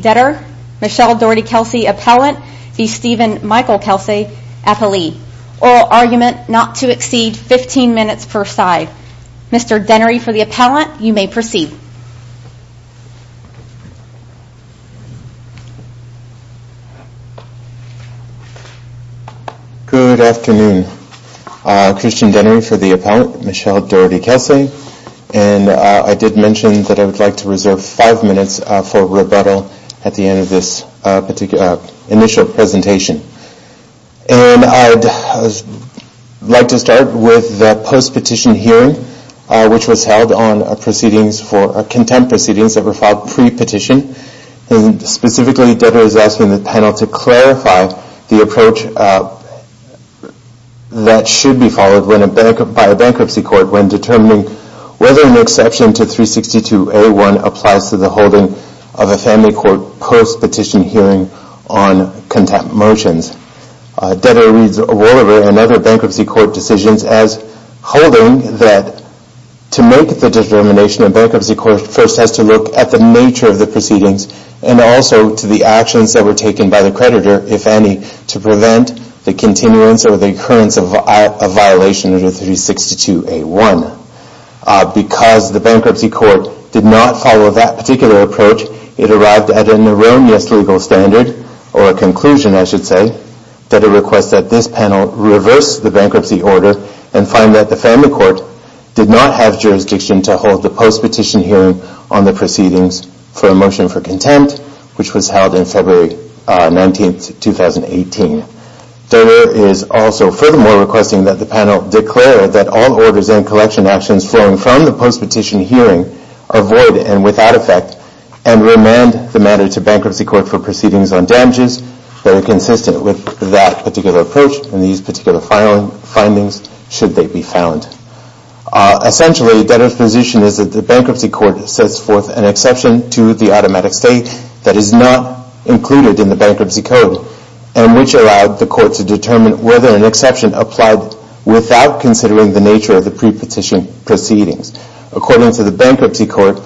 debtor, Michelle Dougherty Kelsay appellant, the Stephen Michael Kelsay appellee. Oral argument not to exceed 15 minutes per side. Mr. Dennery for the appellant, you may proceed. Good afternoon. Good afternoon. Christian Dennery for the appellant, Michelle Dougherty Kelsay. And I did mention that I would like to reserve five minutes for rebuttal at the end of this initial presentation. And I'd like to start with the post-petition hearing, which was held on proceedings for contempt proceedings that were filed pre-petition. Specifically, debtor is asking the panel to clarify the approach that should be followed by a bankruptcy court when determining whether an exception to 362A1 applies to the holding of a family court post-petition hearing on contempt motions. Debtor reads Woliver and other bankruptcy court decisions as holding that to make the determination, the bankruptcy court first has to look at the nature of the proceedings and also to the actions that were taken by the creditor, if any, to prevent the continuance or the occurrence of a violation of 362A1. Because the bankruptcy court did not follow that particular approach, it arrived at an erroneous legal standard or a conclusion, I should say, that it requests that this panel reverse the bankruptcy order and find that the family court did not have jurisdiction to hold the post-petition hearing on the proceedings for a motion for contempt, which was held in February 19, 2018. Debtor is also furthermore requesting that the panel declare that all orders and collection actions flowing from the post-petition hearing are void and without effect, and remand the matter to bankruptcy court for proceedings on damages that are consistent with that particular approach and these particular findings should they be found. Essentially, debtor's position is that the bankruptcy court sets forth an exception to the automatic state that is not included in the bankruptcy code, and which allowed the court to determine whether an exception applied without considering the nature of the pre-petition proceedings. According to the bankruptcy court,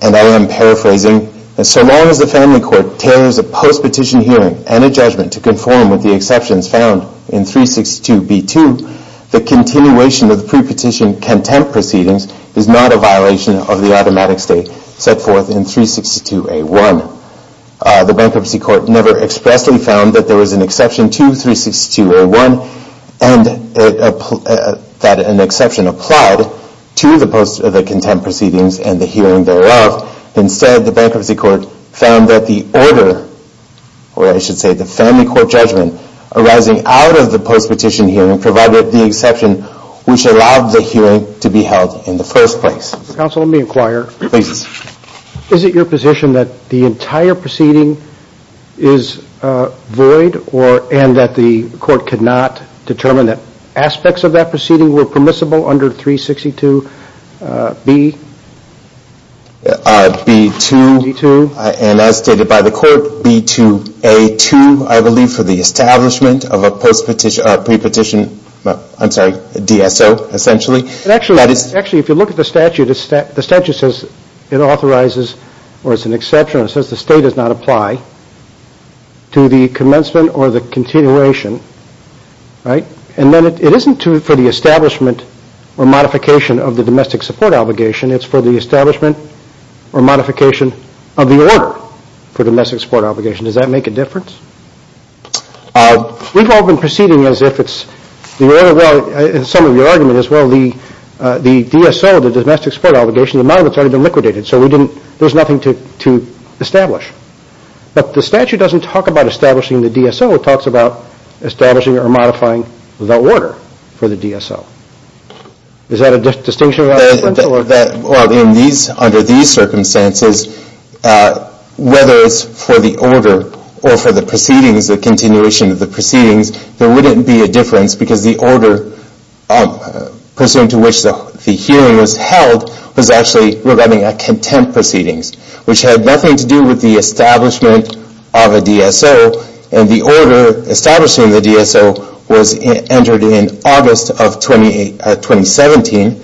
and I am paraphrasing, so long as the family court tailors a post-petition hearing and a judgment to conform with the exceptions found in 362B2, the continuation of the pre-petition contempt proceedings is not a violation of the automatic state set forth in 362A1. The bankruptcy court never expressly found that there was an exception to 362A1 and that an exception applied to the contempt proceedings and the hearing thereof. Instead, the bankruptcy court found that the order, or I should say the family court judgment, arising out of the post-petition hearing provided the exception which allowed the hearing to be held in the first place. Counsel, let me inquire. Please. Is it your position that the entire proceeding is void, and that the court could not determine that aspects of that proceeding were permissible under 362B? B2. B2. And as stated by the court, B2A2, I believe, for the establishment of a pre-petition, I'm sorry, DSO, essentially. Actually, if you look at the statute, the statute says it authorizes, or it's an exception, it says the state does not apply to the commencement or the continuation, right? And then it isn't for the establishment or modification of the domestic support obligation. It's for the establishment or modification of the order for domestic support obligation. Does that make a difference? We've all been proceeding as if it's the order. Well, some of your argument is, well, the DSO, the domestic support obligation, the monument's already been liquidated, so there's nothing to establish. But the statute doesn't talk about establishing the DSO. It talks about establishing or modifying the order for the DSO. Is that a distinction or difference? Well, under these circumstances, whether it's for the order or for the proceedings, the continuation of the proceedings, there wouldn't be a difference, because the order pursuant to which the hearing was held was actually regarding a contempt proceedings, which had nothing to do with the establishment of a DSO. And the order establishing the DSO was entered in August of 2017,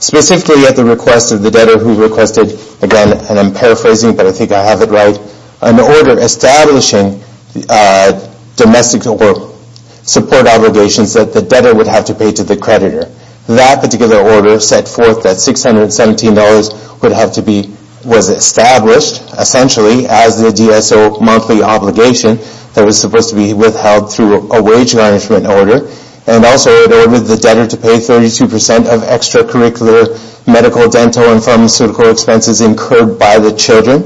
specifically at the request of the debtor who requested, again, and I'm paraphrasing, but I think I have it right, an order establishing domestic support obligations that the debtor would have to pay to the creditor. That particular order set forth that $617 was established, essentially, as the DSO monthly obligation that was supposed to be withheld through a wage garnishment order, and also it ordered the debtor to pay 32% of extracurricular medical, dental, and pharmaceutical expenses incurred by the children.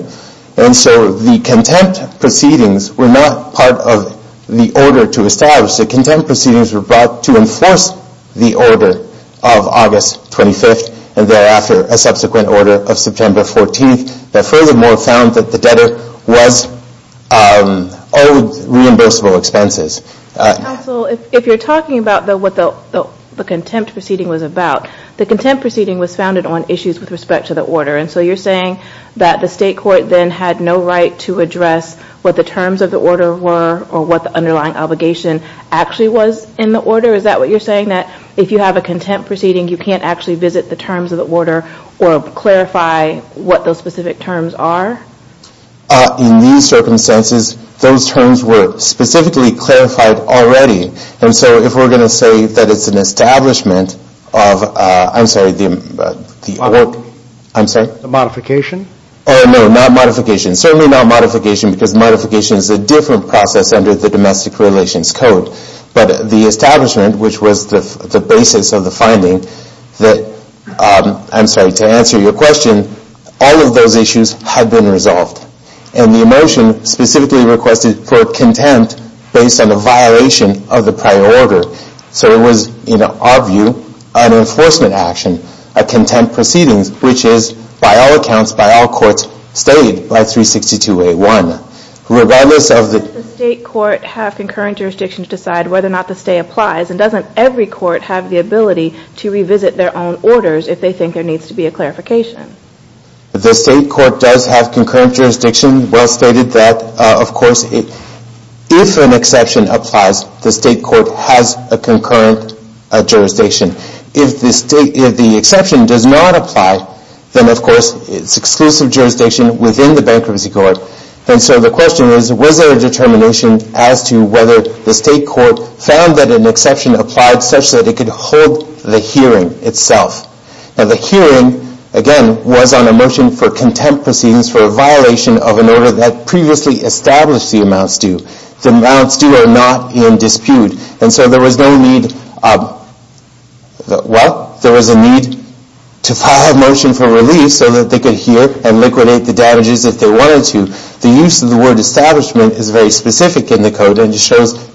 And so the contempt proceedings were not part of the order to establish. The contempt proceedings were brought to enforce the order of August 25th, and thereafter a subsequent order of September 14th, that furthermore found that the debtor was owed reimbursable expenses. Counsel, if you're talking about what the contempt proceeding was about, the contempt proceeding was founded on issues with respect to the order, and so you're saying that the state court then had no right to address what the terms of the order were or what the underlying obligation actually was in the order? Is that what you're saying, that if you have a contempt proceeding, you can't actually visit the terms of the order or clarify what those specific terms are? In these circumstances, those terms were specifically clarified already, and so if we're going to say that it's an establishment of, I'm sorry, the work. Modification? Oh, no, not modification. Certainly not modification because modification is a different process under the Domestic Relations Code. But the establishment, which was the basis of the finding that, I'm sorry, to answer your question, all of those issues had been resolved. And the motion specifically requested for contempt based on the violation of the prior order. So it was, in our view, an enforcement action, a contempt proceedings, which is, by all accounts, by all courts, stayed by 362A1. Regardless of the- Doesn't the state court have concurrent jurisdiction to decide whether or not the stay applies, and doesn't every court have the ability to revisit their own orders if they think there needs to be a clarification? The state court does have concurrent jurisdiction. Well stated that, of course, if an exception applies, the state court has a concurrent jurisdiction. If the exception does not apply, then, of course, it's exclusive jurisdiction within the bankruptcy court. And so the question is, was there a determination as to whether the state court found that an exception applied such that it could hold the hearing itself? Now, the hearing, again, was on a motion for contempt proceedings for a violation of an order that previously established the amounts due. The amounts due are not in dispute. And so there was no need- Well, there was a need to file a motion for relief so that they could hear and liquidate the damages if they wanted to. The use of the word establishment is very specific in the code and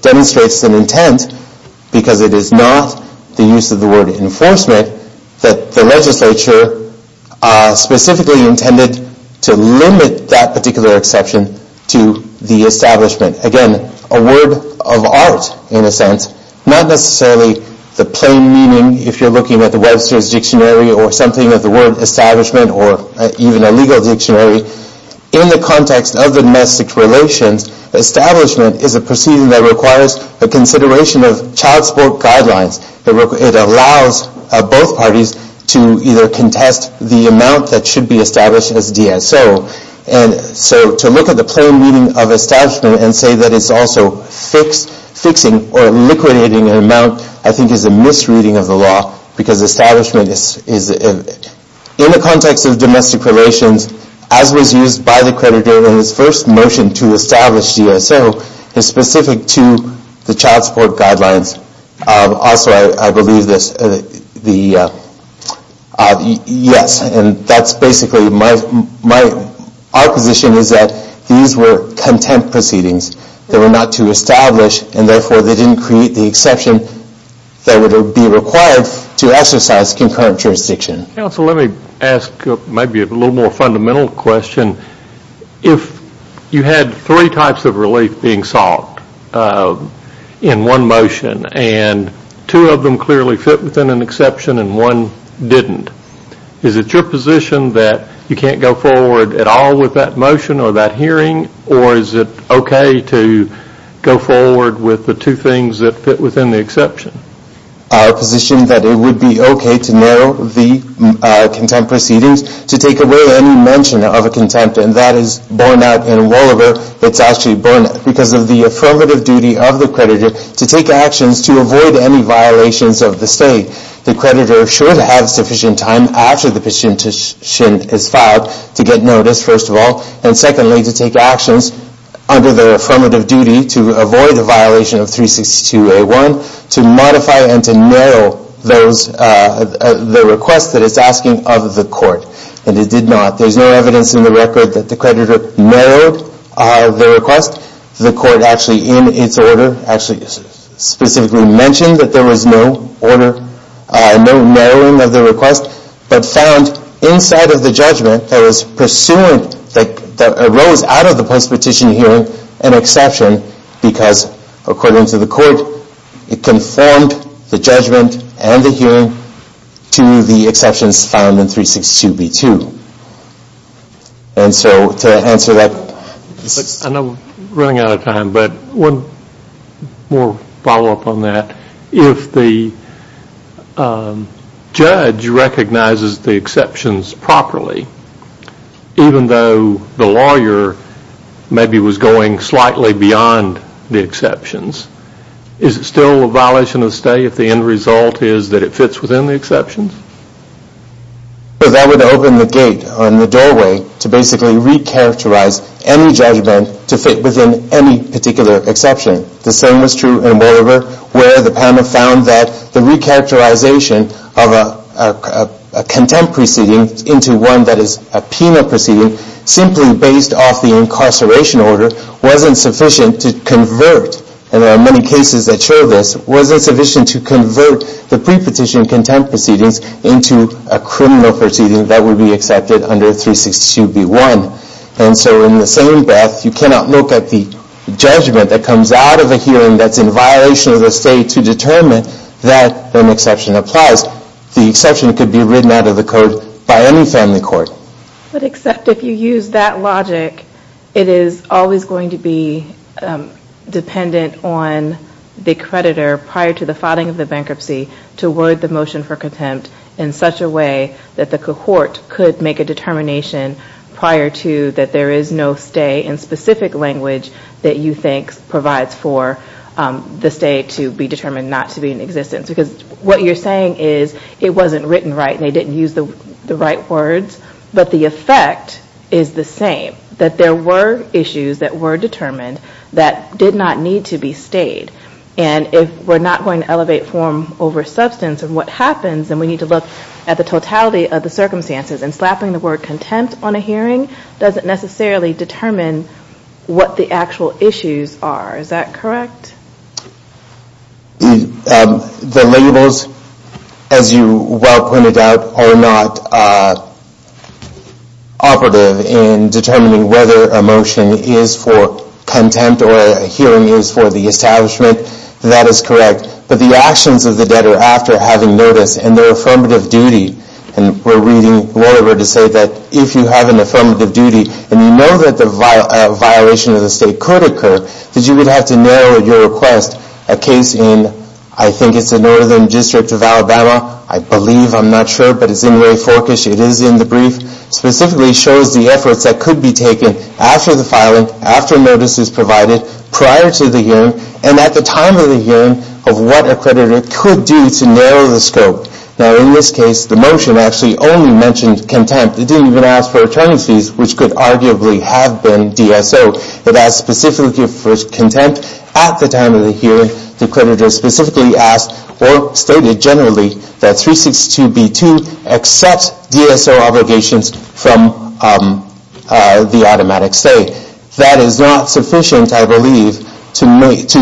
demonstrates an intent because it is not the use of the word enforcement that the legislature specifically intended to limit that particular exception to the establishment. Again, a word of art in a sense, not necessarily the plain meaning if you're looking at the Webster's Dictionary or something of the word establishment or even a legal dictionary. In the context of the domestic relations, establishment is a proceeding that requires the consideration of child support guidelines. It allows both parties to either contest the amount that should be established as DSO. And so to look at the plain meaning of establishment and say that it's also fixing or liquidating an amount I think is a misreading of the law because establishment is in the context of domestic relations as was used by the creditor in his first motion to establish DSO is specific to the child support guidelines. Also, I believe this. Yes, and that's basically my position is that these were contempt proceedings. They were not to establish and therefore they didn't create the exception that would be required to exercise concurrent jurisdiction. Counsel, let me ask maybe a little more fundamental question. If you had three types of relief being sought in one motion and two of them clearly fit within an exception and one didn't, is it your position that you can't go forward at all with that motion or that hearing or is it okay to go forward with the two things that fit within the exception? My position is that it would be okay to narrow the contempt proceedings to take away any mention of a contempt and that is borne out in Wolliver. It's actually borne out because of the affirmative duty of the creditor to take actions to avoid any violations of the state. The creditor should have sufficient time after the petition is filed to get notice, first of all, and secondly, to take actions under the affirmative duty to avoid a violation of 362A1, to modify and to narrow the request that it's asking of the court. And it did not. There's no evidence in the record that the creditor narrowed the request. The court actually in its order actually specifically mentioned that there was no order, no narrowing of the request, but found inside of the judgment that was pursuant, that arose out of the post-petition hearing, an exception because according to the court, it conformed the judgment and the hearing to the exceptions found in 362B2. And so to answer that... I know we're running out of time, but one more follow-up on that. If the judge recognizes the exceptions properly, even though the lawyer maybe was going slightly beyond the exceptions, is it still a violation of the state if the end result is that it fits within the exceptions? Well, that would open the gate on the doorway to basically re-characterize any judgment to fit within any particular exception. The same is true in Bolivar where the panel found that the re-characterization of a contempt proceeding into one that is a Pena proceeding, simply based off the incarceration order, wasn't sufficient to convert, and there are many cases that show this, wasn't sufficient to convert the pre-petition contempt proceedings into a criminal proceeding that would be accepted under 362B1. And so in the same breath, you cannot look at the judgment that comes out of a hearing that's in violation of the state to determine that an exception applies. The exception could be written out of the code by any family court. But except if you use that logic, it is always going to be dependent on the creditor prior to the filing of the bankruptcy to word the motion for contempt in such a way that the cohort could make a determination prior to that there is no stay in specific language that you think provides for the stay to be determined not to be in existence, because what you're saying is it wasn't written right and they didn't use the right words, but the effect is the same, that there were issues that were determined that did not need to be stayed. And if we're not going to elevate form over substance in what happens, then we need to look at the totality of the circumstances. And slapping the word contempt on a hearing doesn't necessarily determine what the actual issues are. Is that correct? The labels, as you well pointed out, are not operative in determining whether a motion is for contempt or a hearing is for the establishment. That is correct. But the actions of the debtor after having noticed and their affirmative duty, and we're reading whatever to say that if you have an affirmative duty and you know that a violation of the state could occur, that you would have to narrow your request. A case in, I think it's the northern district of Alabama, I believe, I'm not sure, but it's in Ray Forkish, it is in the brief, specifically shows the efforts that could be taken after the filing, after notice is provided, prior to the hearing, and at the time of the hearing of what a creditor could do to narrow the scope. Now, in this case, the motion actually only mentioned contempt. It didn't even ask for attorneys fees, which could arguably have been DSO. It asked specifically for contempt at the time of the hearing. The creditor specifically asked or stated generally that 362b2 accepts DSO obligations from the automatic stay. That is not sufficient, I believe, to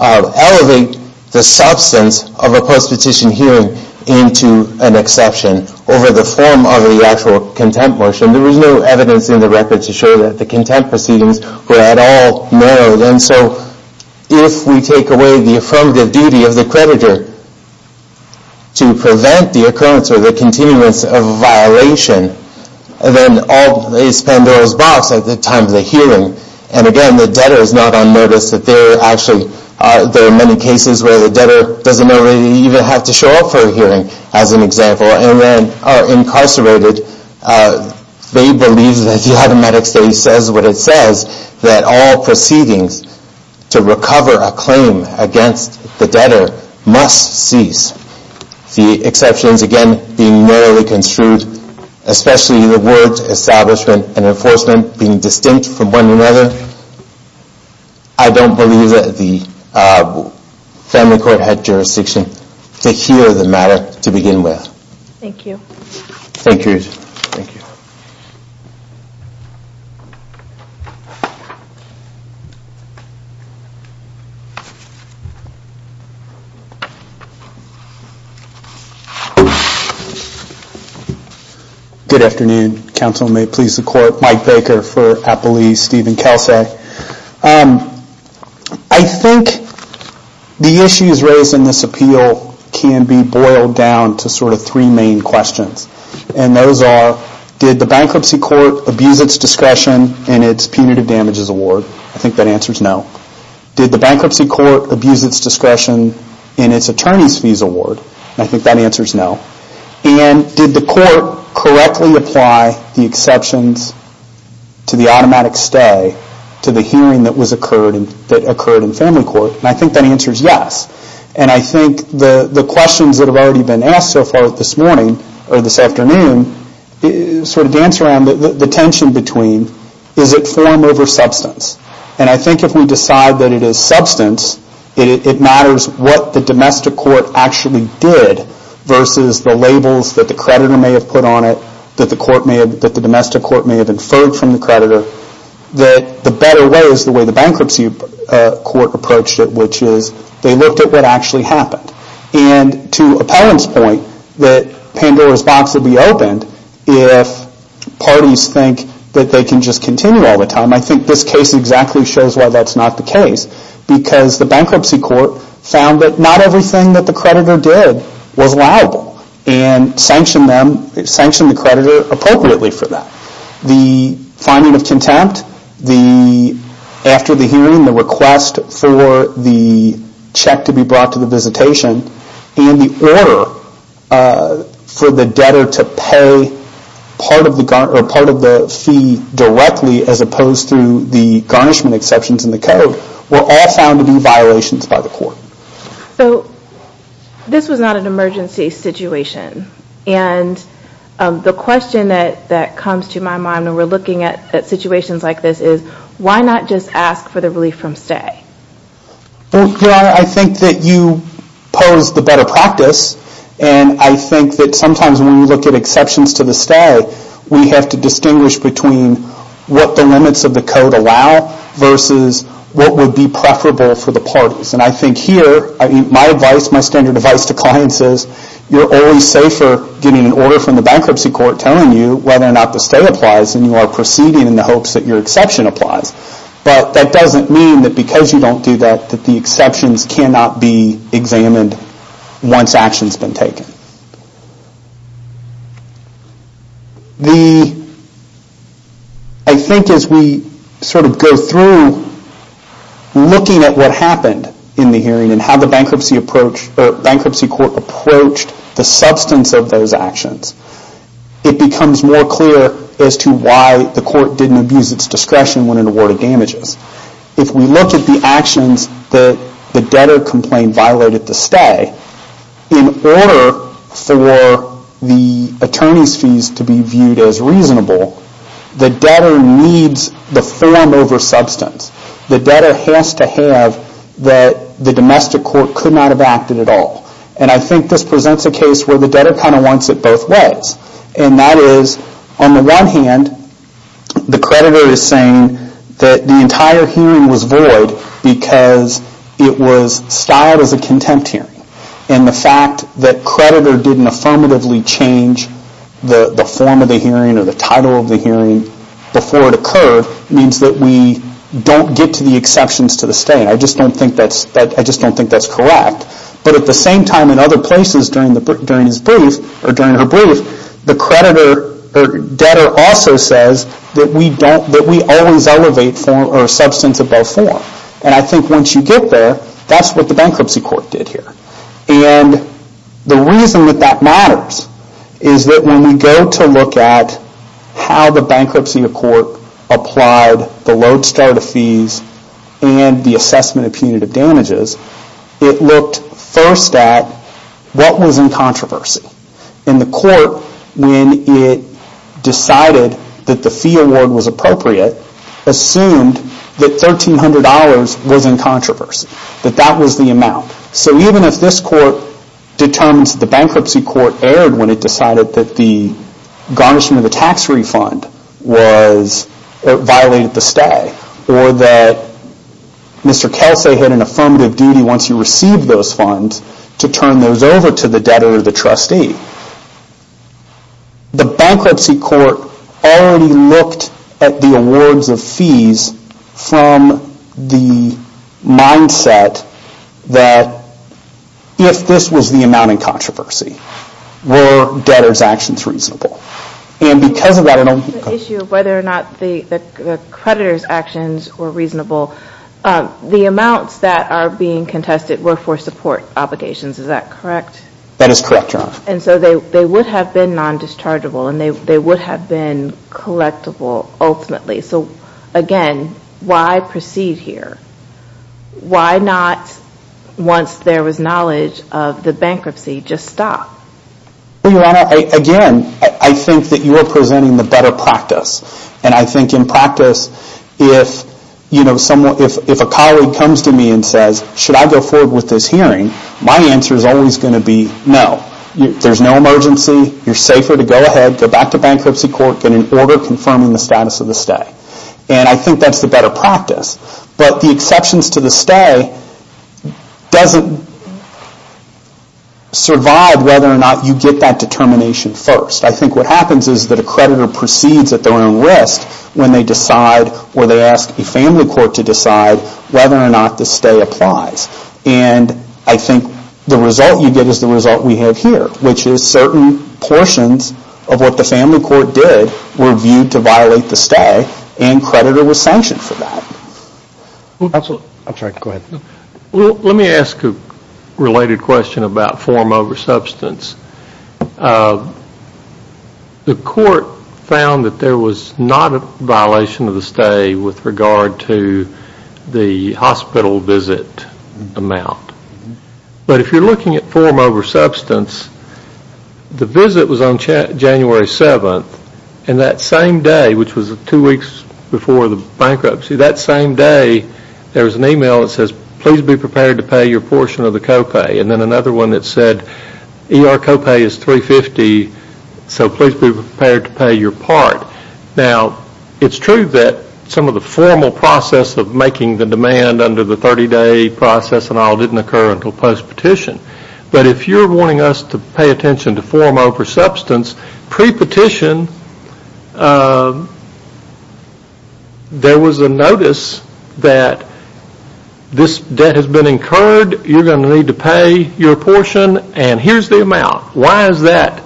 elevate the substance of a post-petition hearing into an exception over the form of the actual contempt motion. There was no evidence in the record to show that the contempt proceedings were at all narrowed, and so if we take away the affirmative duty of the creditor to prevent the occurrence or the continuance of a violation, then all they spend goes back to the time of the hearing. And again, the debtor is not unnoticed. There are many cases where the debtor doesn't even have to show up for a hearing, as an example, and then are incarcerated. They believe that the automatic stay says what it says, that all proceedings to recover a claim against the debtor must cease. The exceptions, again, being narrowly construed, especially the words establishment and enforcement being distinct from one another, I don't believe that the family court had jurisdiction to hear the matter to begin with. Thank you. Thank you. Good afternoon. Counsel, may it please the Court. Mike Baker for Appellee Stephen Kelce. I think the issues raised in this appeal can be boiled down to sort of three main questions, and those are did the bankruptcy court abuse its discretion in its punitive damages award? I think that answer is no. Did the bankruptcy court abuse its discretion in its attorney's fees award? I think that answer is no. And did the court correctly apply the exceptions to the automatic stay to the hearing that occurred in family court? And I think that answer is yes. And I think the questions that have already been asked so far this afternoon sort of dance around the tension between is it form over substance? And I think if we decide that it is substance, it matters what the domestic court actually did versus the labels that the creditor may have put on it, that the domestic court may have inferred from the creditor, that the better way is the way the bankruptcy court approached it, which is they looked at what actually happened. And to Appellant's point, that Pandora's box would be opened if parties think that they can just continue all the time. I think this case exactly shows why that's not the case. Because the bankruptcy court found that not everything that the creditor did was liable and sanctioned the creditor appropriately for that. The finding of contempt, after the hearing, the request for the check to be brought to the visitation, and the order for the debtor to pay part of the fee directly as opposed to the garnishment exceptions in the code, were all found to be violations by the court. So this was not an emergency situation. And the question that comes to my mind when we're looking at situations like this is why not just ask for the relief from stay? I think that you pose the better practice. And I think that sometimes when we look at exceptions to the stay, we have to distinguish between what the limits of the code allow versus what would be preferable for the parties. And I think here, my advice, my standard advice to clients is you're always safer getting an order from the bankruptcy court telling you whether or not the stay applies than you are proceeding in the hopes that your exception applies. But that doesn't mean that because you don't do that, that the exceptions cannot be examined once action has been taken. I think as we sort of go through looking at what happened in the hearing and how the bankruptcy court approached the substance of those actions, it becomes more clear as to why the court didn't abuse its discretion when it awarded damages. If we look at the actions that the debtor complained violated the stay, in order for the attorney's fees to be viewed as reasonable, the debtor needs the form over substance. The debtor has to have that the domestic court could not have acted at all. And I think this presents a case where the debtor kind of wants it both ways. And that is, on the one hand, the creditor is saying that the entire hearing was void because it was styled as a contempt hearing. And the fact that creditor didn't affirmatively change the form of the hearing or the title of the hearing before it occurred means that we don't get to the exceptions to the stay. I just don't think that's correct. But at the same time, in other places during her brief, the creditor or debtor also says that we always elevate form or substance above form. And I think once you get there, that's what the bankruptcy court did here. And the reason that that matters is that when we go to look at how the bankruptcy court applied the load-starter fees and the assessment of punitive damages, it looked first at what was in controversy. And the court, when it decided that the fee award was appropriate, assumed that $1,300 was in controversy, that that was the amount. So even if this court determines that the bankruptcy court erred when it decided that the garnishment of the tax refund violated the stay or that Mr. Kelsey had an affirmative duty once you received those funds to turn those over to the debtor or the trustee, the bankruptcy court already looked at the awards of fees from the mindset that if this was the amount in controversy, were debtor's actions reasonable. The issue of whether or not the creditor's actions were reasonable, the amounts that are being contested were for support obligations, is that correct? That is correct, Your Honor. And so they would have been non-dischargeable and they would have been collectible ultimately. So again, why proceed here? Why not, once there was knowledge of the bankruptcy, just stop? Well, Your Honor, again, I think that you are presenting the better practice. And I think in practice, if a colleague comes to me and says, should I go forward with this hearing, my answer is always going to be no. There's no emergency. You're safer to go ahead, go back to bankruptcy court, get an order confirming the status of the stay. And I think that's the better practice. But the exceptions to the stay doesn't survive whether or not you get that determination first. I think what happens is that a creditor proceeds at their own risk when they decide or they ask a family court to decide whether or not the stay applies. And I think the result you get is the result we have here, which is certain portions of what the family court did were viewed to violate the stay and creditor was sanctioned for that. I'm sorry, go ahead. Let me ask a related question about form over substance. The court found that there was not a violation of the stay with regard to the hospital visit amount. But if you're looking at form over substance, the visit was on January 7th, and that same day, which was two weeks before the bankruptcy, that same day there was an email that says please be prepared to pay your portion of the copay. And then another one that said ER copay is $350, so please be prepared to pay your part. Now, it's true that some of the formal process of making the demand under the 30-day process and all didn't occur until post-petition. But if you're wanting us to pay attention to form over substance, pre-petition there was a notice that this debt has been incurred, you're going to need to pay your portion, and here's the amount. Why is that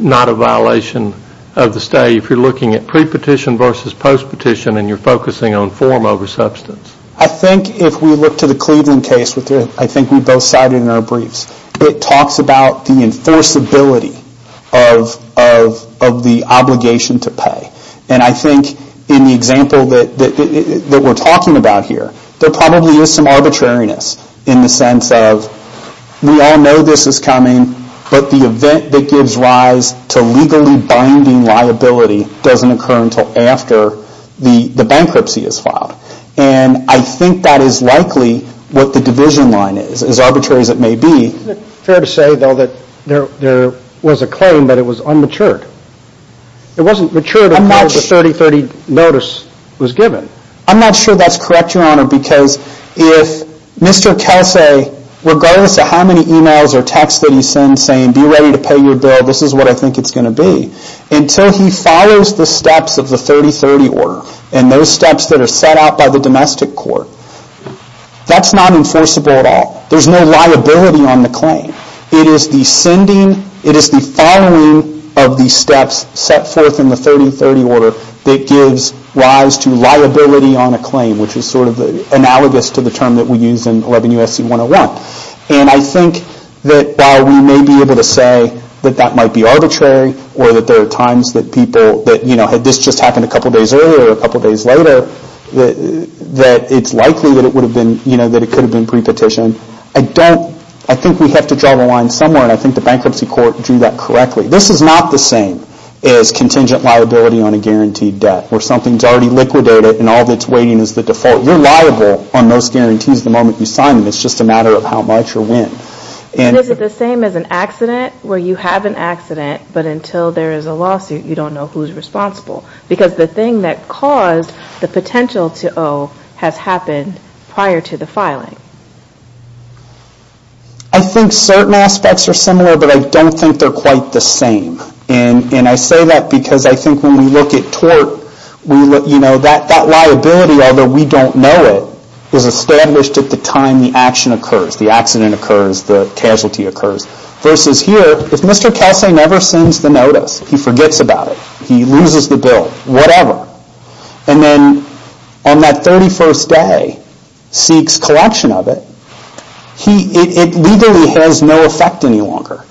not a violation of the stay if you're looking at pre-petition versus post-petition and you're focusing on form over substance? I think if we look to the Cleveland case, which I think we both cited in our briefs, it talks about the enforceability of the obligation to pay. And I think in the example that we're talking about here, there probably is some arbitrariness in the sense of we all know this is coming, but the event that gives rise to legally binding liability doesn't occur until after the bankruptcy is filed. And I think that is likely what the division line is, as arbitrary as it may be. Isn't it fair to say, though, that there was a claim that it was unmatured? It wasn't matured until the 30-30 notice was given. I'm not sure that's correct, Your Honor, because if Mr. Kelsey, regardless of how many emails or texts that he sends saying be ready to pay your bill, this is what I think it's going to be, until he follows the steps of the 30-30 order and those steps that are set out by the domestic court. That's not enforceable at all. There's no liability on the claim. It is the sending, it is the following of the steps set forth in the 30-30 order that gives rise to liability on a claim, which is sort of analogous to the term that we use in 11 U.S.C. 101. And I think that while we may be able to say that that might be arbitrary or that there are times that people, you know, had this just happened a couple days earlier or a couple days later, that it's likely that it could have been pre-petitioned. I don't, I think we have to draw the line somewhere, and I think the bankruptcy court drew that correctly. This is not the same as contingent liability on a guaranteed debt where something's already liquidated and all that's waiting is the default. You're liable on those guarantees the moment you sign them. It's just a matter of how much or when. And is it the same as an accident where you have an accident, but until there is a lawsuit, you don't know who's responsible? Because the thing that caused the potential to owe has happened prior to the filing. I think certain aspects are similar, but I don't think they're quite the same. And I say that because I think when we look at tort, you know, that liability, although we don't know it, is established at the time the action occurs, the accident occurs, the casualty occurs. Versus here, if Mr. Kelsey never sends the notice, he forgets about it, he loses the bill, whatever, and then on that 31st day seeks collection of it, it legally has no effect any longer.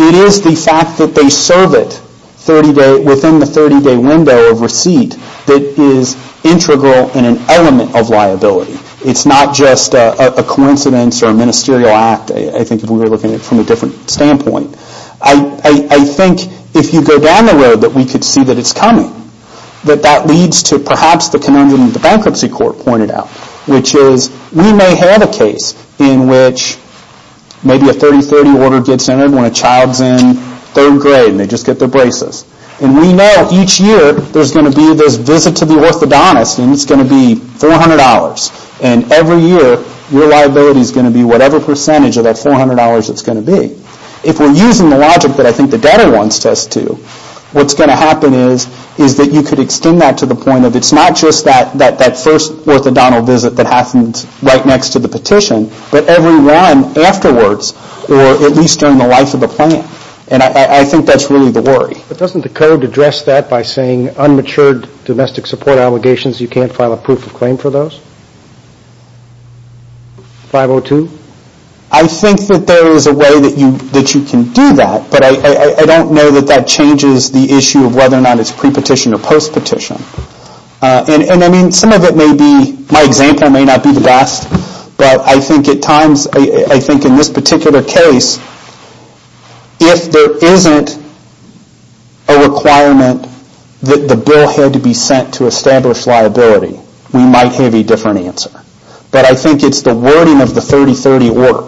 It is the fact that they serve it within the 30-day window of receipt that is integral and an element of liability. It's not just a coincidence or a ministerial act, I think if we were looking at it from a different standpoint. I think if you go down the road that we could see that it's coming, that that leads to perhaps the conundrum that the bankruptcy court pointed out, which is we may have a case in which maybe a 30-30 order gets entered when a child's in third grade and they just get their braces. And we know each year there's going to be this visit to the orthodontist and it's going to be $400. And every year your liability is going to be whatever percentage of that $400 it's going to be. If we're using the logic that I think the debtor wants us to, what's going to happen is that you could extend that to the point of it's not just that first orthodontal visit that happens right next to the petition, but every one afterwards or at least during the life of the plan. And I think that's really the worry. But doesn't the code address that by saying unmatured domestic support allegations, you can't file a proof of claim for those? 502? I think that there is a way that you can do that, but I don't know that that changes the issue of whether or not it's pre-petition or post-petition. And I mean some of it may be, my example may not be the best, but I think at times, I think in this particular case, if there isn't a requirement that the bill had to be sent to establish liability, we might have a different answer. But I think it's the wording of the 30-30 order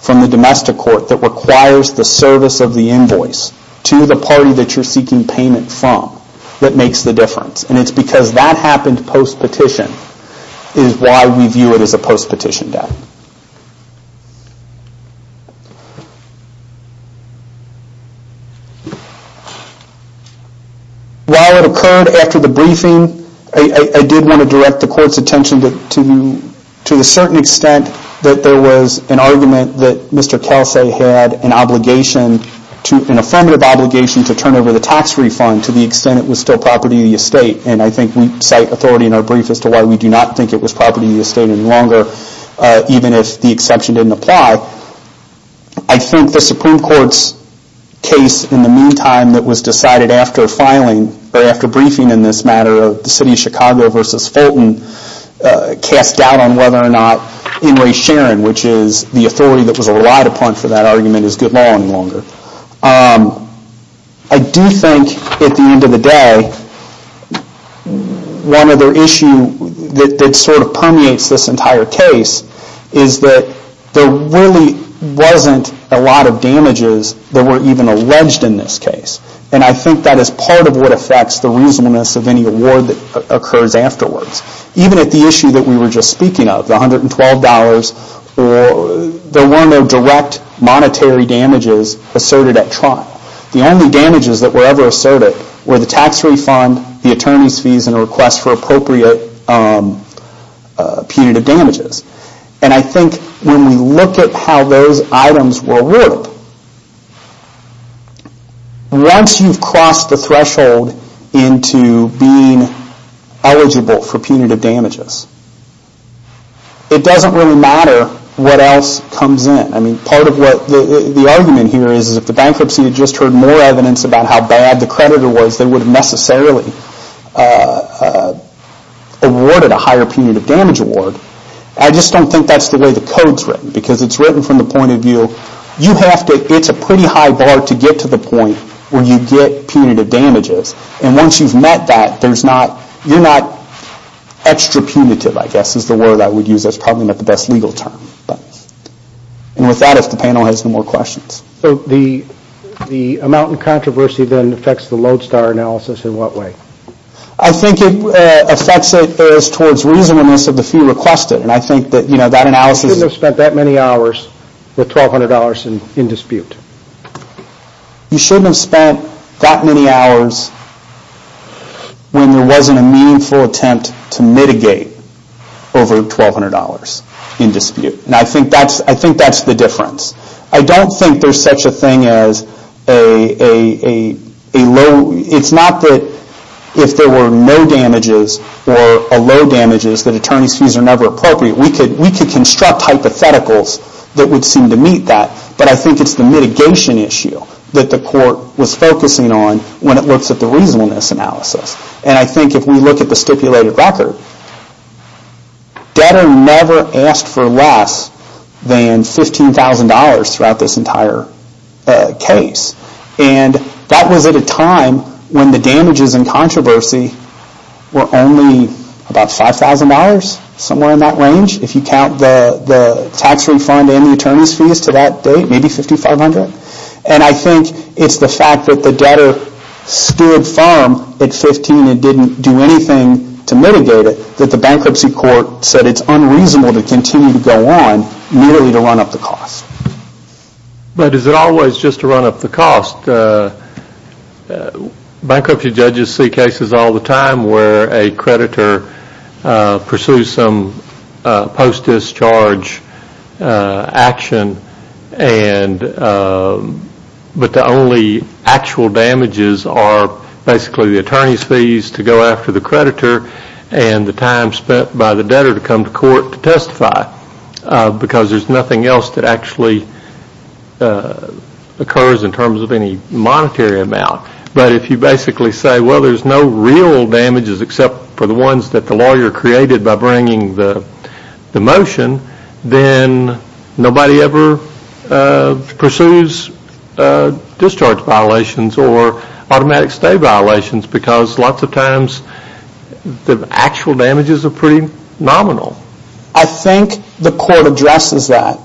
from the domestic court that requires the service of the invoice to the party that you're seeking payment from that makes the difference. And it's because that happened post-petition is why we view it as a post-petition debt. While it occurred after the briefing, I did want to direct the court's attention to the certain extent that there was an argument that Mr. Kelsay had an affirmative obligation to turn over the tax refund to the extent it was still property of the estate. And I think we cite authority in our brief as to why we do not think it was property of the estate any longer, even if the exception didn't apply. I think the Supreme Court's case in the meantime that was decided after filing, or after briefing in this matter of the city of Chicago versus Fulton, cast doubt on whether or not in re sharing, which is the authority that was relied upon for that argument is good law any longer. I do think at the end of the day, one other issue that sort of permeates this entire case is that there really wasn't a lot of damages that were even alleged in this case. And I think that is part of what affects the reasonableness of any award that occurs afterwards. Even at the issue that we were just speaking of, the $112, there were no direct monetary damages asserted at trial. The only damages that were ever asserted were the tax refund, the attorney's fees, and a request for appropriate punitive damages. And I think when we look at how those items were awarded, once you've crossed the threshold into being eligible for punitive damages, it doesn't really matter what else comes in. I mean, part of what the argument here is, is if the bankruptcy had just heard more evidence about how bad the creditor was, they would have necessarily awarded a higher punitive damage award. I just don't think that's the way the code's written, because it's written from the point of view, it's a pretty high bar to get to the point where you get punitive damages. And once you've met that, you're not extra punitive, I guess, is the word I would use as probably not the best legal term. And with that, if the panel has no more questions. So the amount in controversy then affects the Lodestar analysis in what way? I think it affects it as towards reasonableness of the fee requested. And I think that analysis... You shouldn't have spent that many hours with $1,200 in dispute. You shouldn't have spent that many hours when there wasn't a meaningful attempt to mitigate over $1,200 in dispute. And I think that's the difference. I don't think there's such a thing as a low... It's not that if there were no damages or a low damages, that attorney's fees are never appropriate. We could construct hypotheticals that would seem to meet that. But I think it's the mitigation issue that the court was focusing on when it looks at the reasonableness analysis. And I think if we look at the stipulated record, debtor never asked for less than $15,000 throughout this entire case. And that was at a time when the damages in controversy were only about $5,000, somewhere in that range. If you count the tax refund and the attorney's fees to that date, maybe $5,500. And I think it's the fact that the debtor stood firm at $15,000 and didn't do anything to mitigate it that the bankruptcy court said it's unreasonable to continue to go on merely to run up the cost. But is it always just to run up the cost? Bankruptcy judges see cases all the time where a creditor pursues some post-discharge action, but the only actual damages are basically the attorney's fees to go after the creditor and the time spent by the debtor to come to court to testify because there's nothing else that actually occurs in terms of any monetary amount. But if you basically say, well, there's no real damages except for the ones that the lawyer created by bringing the motion, then nobody ever pursues discharge violations or automatic stay violations because lots of times the actual damages are pretty nominal. I think the court addresses that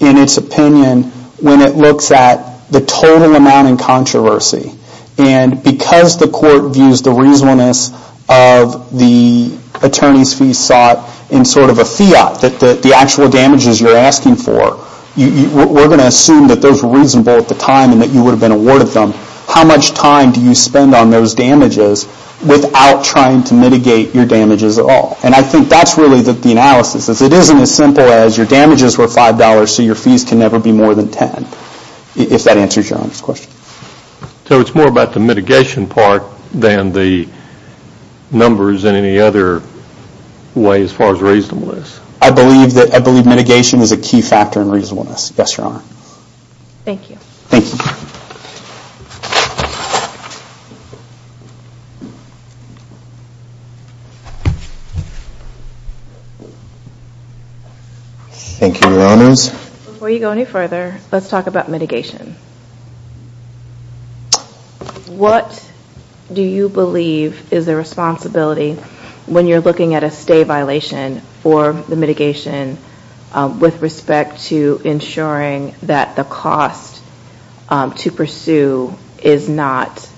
in its opinion when it looks at the total amount in controversy. And because the court views the reasonableness of the attorney's fees sought in sort of a fiat, the actual damages you're asking for, we're going to assume that those were reasonable at the time and that you would have been awarded them. How much time do you spend on those damages without trying to mitigate your damages at all? And I think that's really the analysis. It isn't as simple as your damages were $5, so your fees can never be more than $10, if that answers your question. So it's more about the mitigation part than the numbers in any other way as far as reasonableness. I believe mitigation is a key factor in reasonableness. Yes, Your Honor. Thank you. Thank you. Thank you, Your Honors. Before you go any further, let's talk about mitigation. What do you believe is the responsibility when you're looking at a stay violation for the mitigation with respect to ensuring that the cost to pursue is not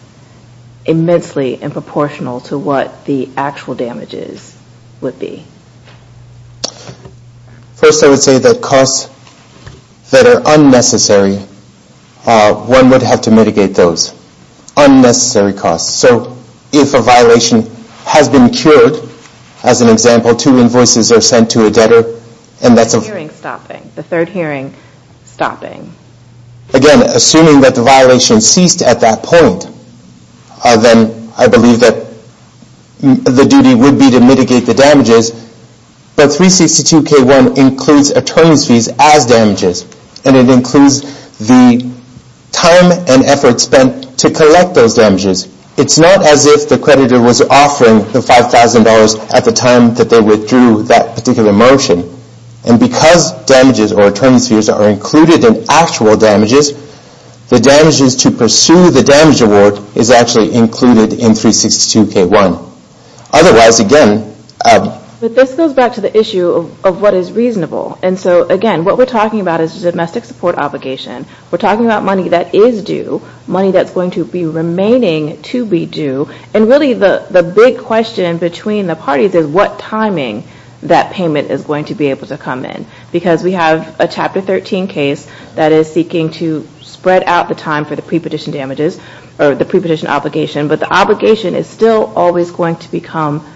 immensely in proportional to what the actual damages would be? First, I would say that costs that are unnecessary, one would have to mitigate those unnecessary costs. So if a violation has been cured, as an example, two invoices are sent to a debtor. And that's a hearing stopping, the third hearing stopping. Again, assuming that the violation ceased at that point, then I believe that the duty would be to mitigate the damages. But 362K1 includes attorney's fees as damages, and it includes the time and effort spent to collect those damages. It's not as if the creditor was offering the $5,000 at the time that they withdrew that particular motion. And because damages or attorney's fees are included in actual damages, the damages to pursue the damage award is actually included in 362K1. Otherwise, again... But this goes back to the issue of what is reasonable. And so, again, what we're talking about is a domestic support obligation. We're talking about money that is due, money that's going to be remaining to be due. And, really, the big question between the parties is what timing that payment is going to be able to come in. Because we have a Chapter 13 case that is seeking to spread out the time for the prepetition damages, or the prepetition obligation, but the obligation is still always going to become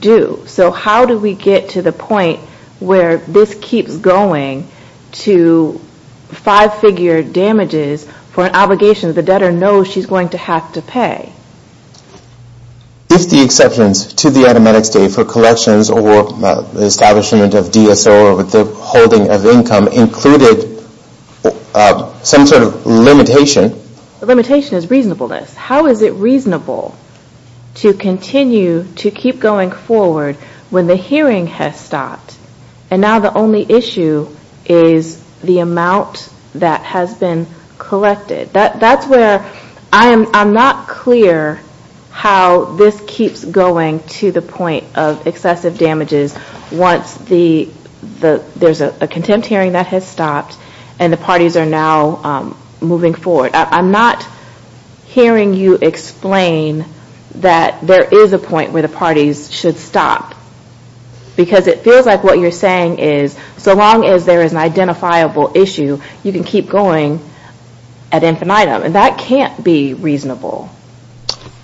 due. So how do we get to the point where this keeps going to five-figure damages for an obligation the debtor knows she's going to have to pay? If the exceptions to the Edematics Day for collections or the establishment of DSO or withholding of income included some sort of limitation... The limitation is reasonableness. How is it reasonable to continue to keep going forward when the hearing has stopped and now the only issue is the amount that has been collected? That's where I'm not clear how this keeps going to the point of excessive damages once there's a contempt hearing that has stopped and the parties are now moving forward. I'm not hearing you explain that there is a point where the parties should stop. Because it feels like what you're saying is so long as there is an identifiable issue, you can keep going ad infinitum. That can't be reasonable.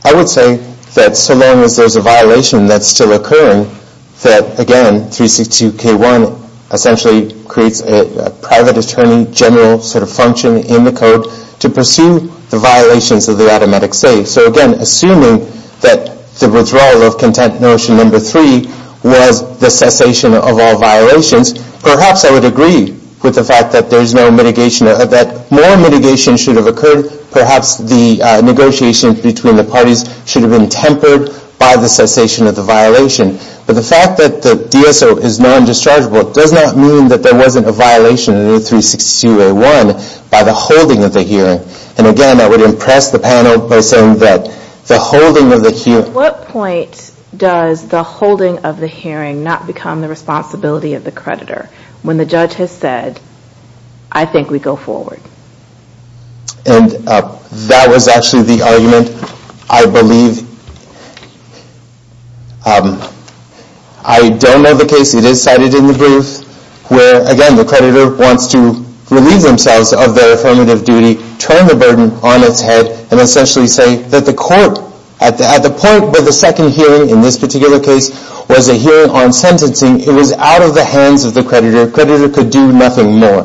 I would say that so long as there's a violation that's still occurring, that again, 362K1 essentially creates a private attorney general sort of function in the code to pursue the violations of the Edematics Day. So again, assuming that the withdrawal of content notion number three was the cessation of all violations, perhaps I would agree with the fact that more mitigation should have occurred. Perhaps the negotiations between the parties should have been tempered by the cessation of the violation. But the fact that the DSO is non-dischargeable does not mean that there wasn't a violation in 362A1 by the holding of the hearing. And again, I would impress the panel by saying that the holding of the hearing... When the judge has said, I think we go forward. And that was actually the argument. I believe... I don't know the case. It is cited in the brief where, again, the creditor wants to relieve themselves of their affirmative duty, turn the burden on its head, and essentially say that the court... At the point where the second hearing in this particular case was a hearing on sentencing, it was out of the hands of the creditor. The creditor could do nothing more.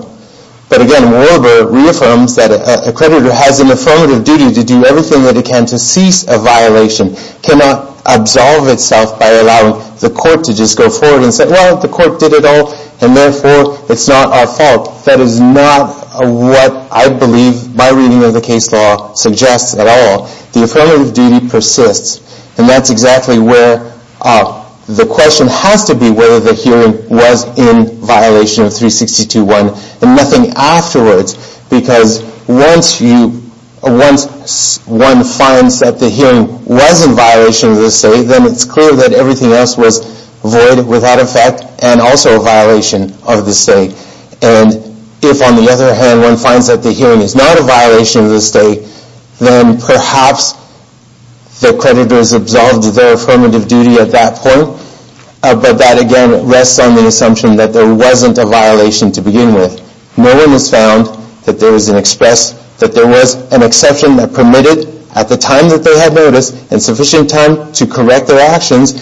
But again, Warbur reaffirms that a creditor has an affirmative duty to do everything that he can to cease a violation. It cannot absolve itself by allowing the court to just go forward and say, well, the court did it all, and therefore it's not our fault. That is not what I believe my reading of the case law suggests at all. The affirmative duty persists. And that's exactly where the question has to be whether the hearing was in violation of 362.1 and nothing afterwards. Because once one finds that the hearing was in violation of the state, then it's clear that everything else was void, without effect, and also a violation of the state. And if, on the other hand, one finds that the hearing is not a violation of the state, then perhaps the creditor has absolved their affirmative duty at that point. But that, again, rests on the assumption that there wasn't a violation to begin with. No one has found that there was an exception that permitted, at the time that they had noticed, and sufficient time to correct their actions,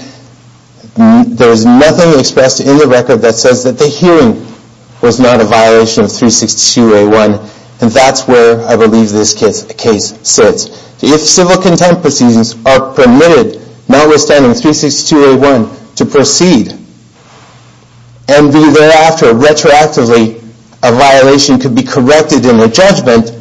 there was nothing expressed in the record that says that the hearing was not a violation of 362.1. And that's where I believe this case sits. If civil contempt proceedings are permitted, notwithstanding 362.1, to proceed, and thereafter, retroactively, a violation could be corrected in the judgment,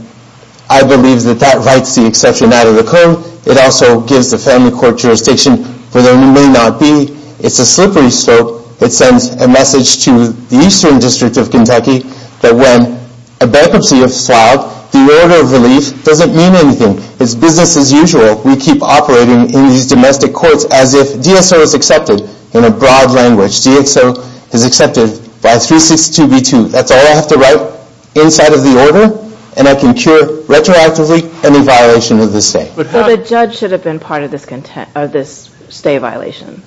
I believe that that rights the exception out of the code. It also gives the family court jurisdiction where there may not be. It's a slippery slope. It sends a message to the Eastern District of Kentucky that when a bankruptcy is filed, the order of relief doesn't mean anything. It's business as usual. We keep operating in these domestic courts as if DSO is accepted in a broad language. DSO is accepted by 362.2. That's all I have to write inside of the order, and I can cure, retroactively, any violation of the state. So the judge should have been part of this state violation?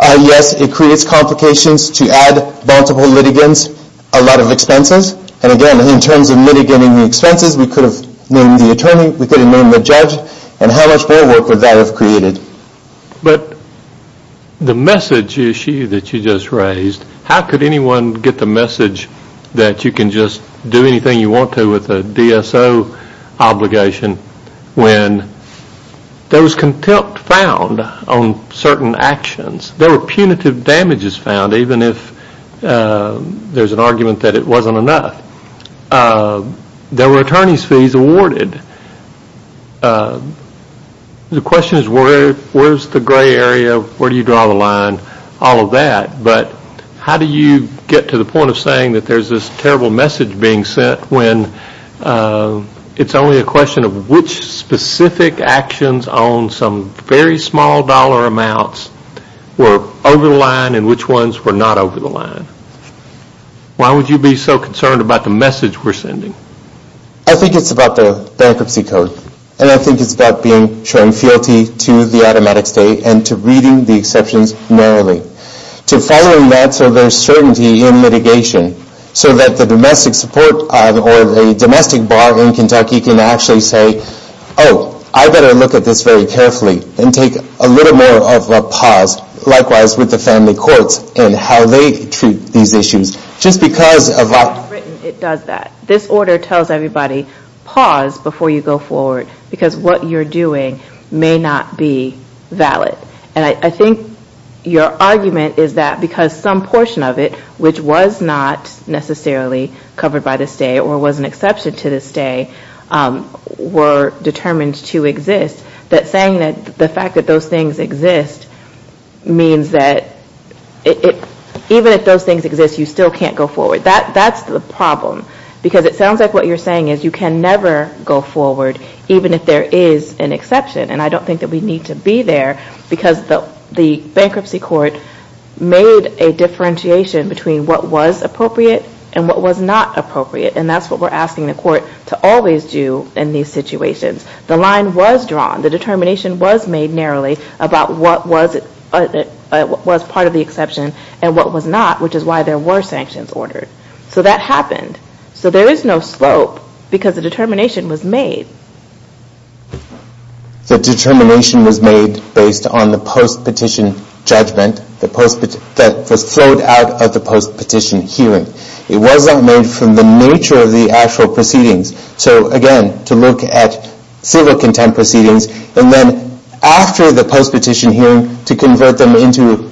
Yes, it creates complications to add multiple litigants, a lot of expenses, and again, in terms of mitigating the expenses, we could have named the attorney, we could have named the judge, and how much more work would that have created? But the message issue that you just raised, how could anyone get the message that you can just do anything you want to with a DSO obligation when there was contempt found on certain actions? There were punitive damages found, even if there's an argument that it wasn't enough. There were attorney's fees awarded. The question is where's the gray area, where do you draw the line, all of that, but how do you get to the point of saying that there's this terrible message being sent when it's only a question of which specific actions on some very small dollar amounts were over the line and which ones were not over the line? Why would you be so concerned about the message we're sending? I think it's about the bankruptcy code, and I think it's about showing fealty to the automatic state and to reading the exceptions narrowly, to following that so there's certainty in mitigation, so that the domestic support or the domestic bar in Kentucky can actually say, oh, I better look at this very carefully and take a little more of a pause, likewise with the family courts and how they treat these issues. Just because of... It does that. This order tells everybody, pause before you go forward, because what you're doing may not be valid. And I think your argument is that because some portion of it, which was not necessarily covered by the state or was an exception to the state, were determined to exist, that saying that the fact that those things exist means that even if those things exist, you still can't go forward. That's the problem. Because it sounds like what you're saying is you can never go forward, even if there is an exception. And I don't think that we need to be there because the bankruptcy court made a differentiation between what was appropriate and what was not appropriate, and that's what we're asking the court to always do in these situations. The line was drawn. The determination was made narrowly about what was part of the exception and what was not, which is why there were sanctions ordered. So that happened. So there is no slope because the determination was made. The determination was made based on the post-petition judgment that was flowed out of the post-petition hearing. It was not made from the nature of the actual proceedings. So again, to look at civil contempt proceedings, and then after the post-petition hearing to convert them into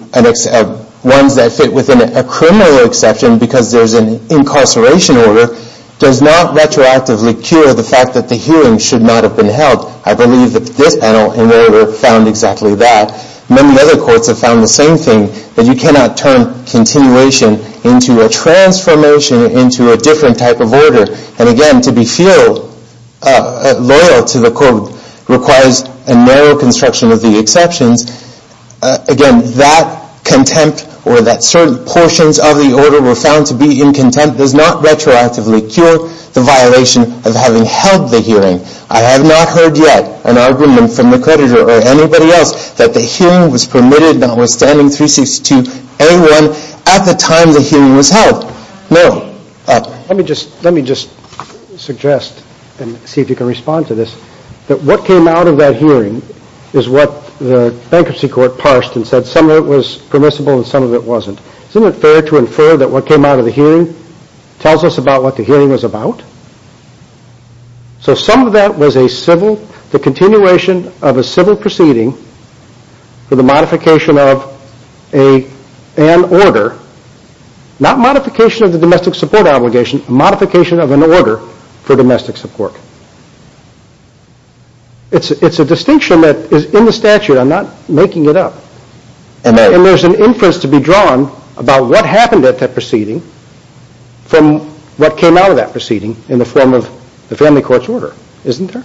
ones that fit within a criminal exception because there's an incarceration order, does not retroactively cure the fact that the hearing should not have been held. I believe that this panel, in their work, found exactly that. Many other courts have found the same thing, that you cannot turn continuation into a transformation into a different type of order. And again, to be loyal to the court requires a narrow construction of the exceptions. Again, that contempt or that certain portions of the order were found to be in contempt does not retroactively cure the violation of having held the hearing. I have not heard yet an argument from the coditor or anybody else that the hearing was permitted notwithstanding 362A1 at the time the hearing was held. No. Let me just suggest and see if you can respond to this, that what came out of that hearing is what the bankruptcy court parsed and said some of it was permissible and some of it wasn't. Isn't it fair to infer that what came out of the hearing tells us about what the hearing was about? So some of that was the continuation of a civil proceeding for the modification of an order, not modification of the domestic support obligation, modification of an order for domestic support. It's a distinction that is in the statute. I'm not making it up. And there's an inference to be drawn about what happened at that proceeding from what came out of that proceeding in the form of the family court's order. Isn't there?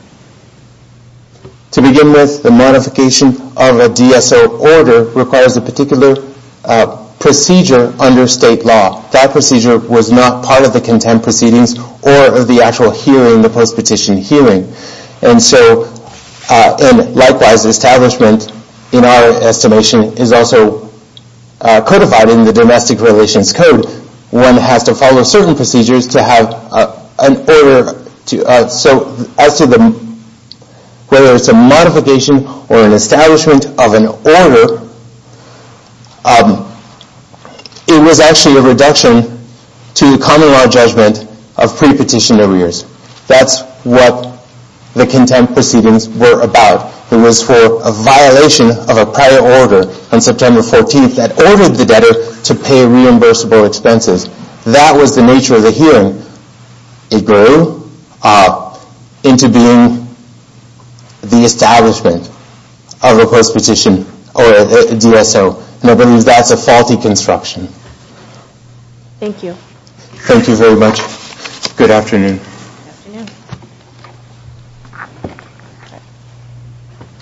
To begin with, the modification of a DSO order requires a particular procedure under state law. That procedure was not part of the contempt proceedings or of the actual hearing, the post-petition hearing. And likewise, establishment, in our estimation, is also codified in the Domestic Relations Code. One has to follow certain procedures to have an order. So as to whether it's a modification or an establishment of an order, it was actually a reduction to the common law judgment of pre-petition arrears. That's what the contempt proceedings were about. It was for a violation of a prior order on September 14th that ordered the debtor to pay reimbursable expenses. That was the nature of the hearing. It grew into being the establishment of a post-petition or a DSO. And I believe that's a faulty construction. Thank you. Thank you very much. Good afternoon.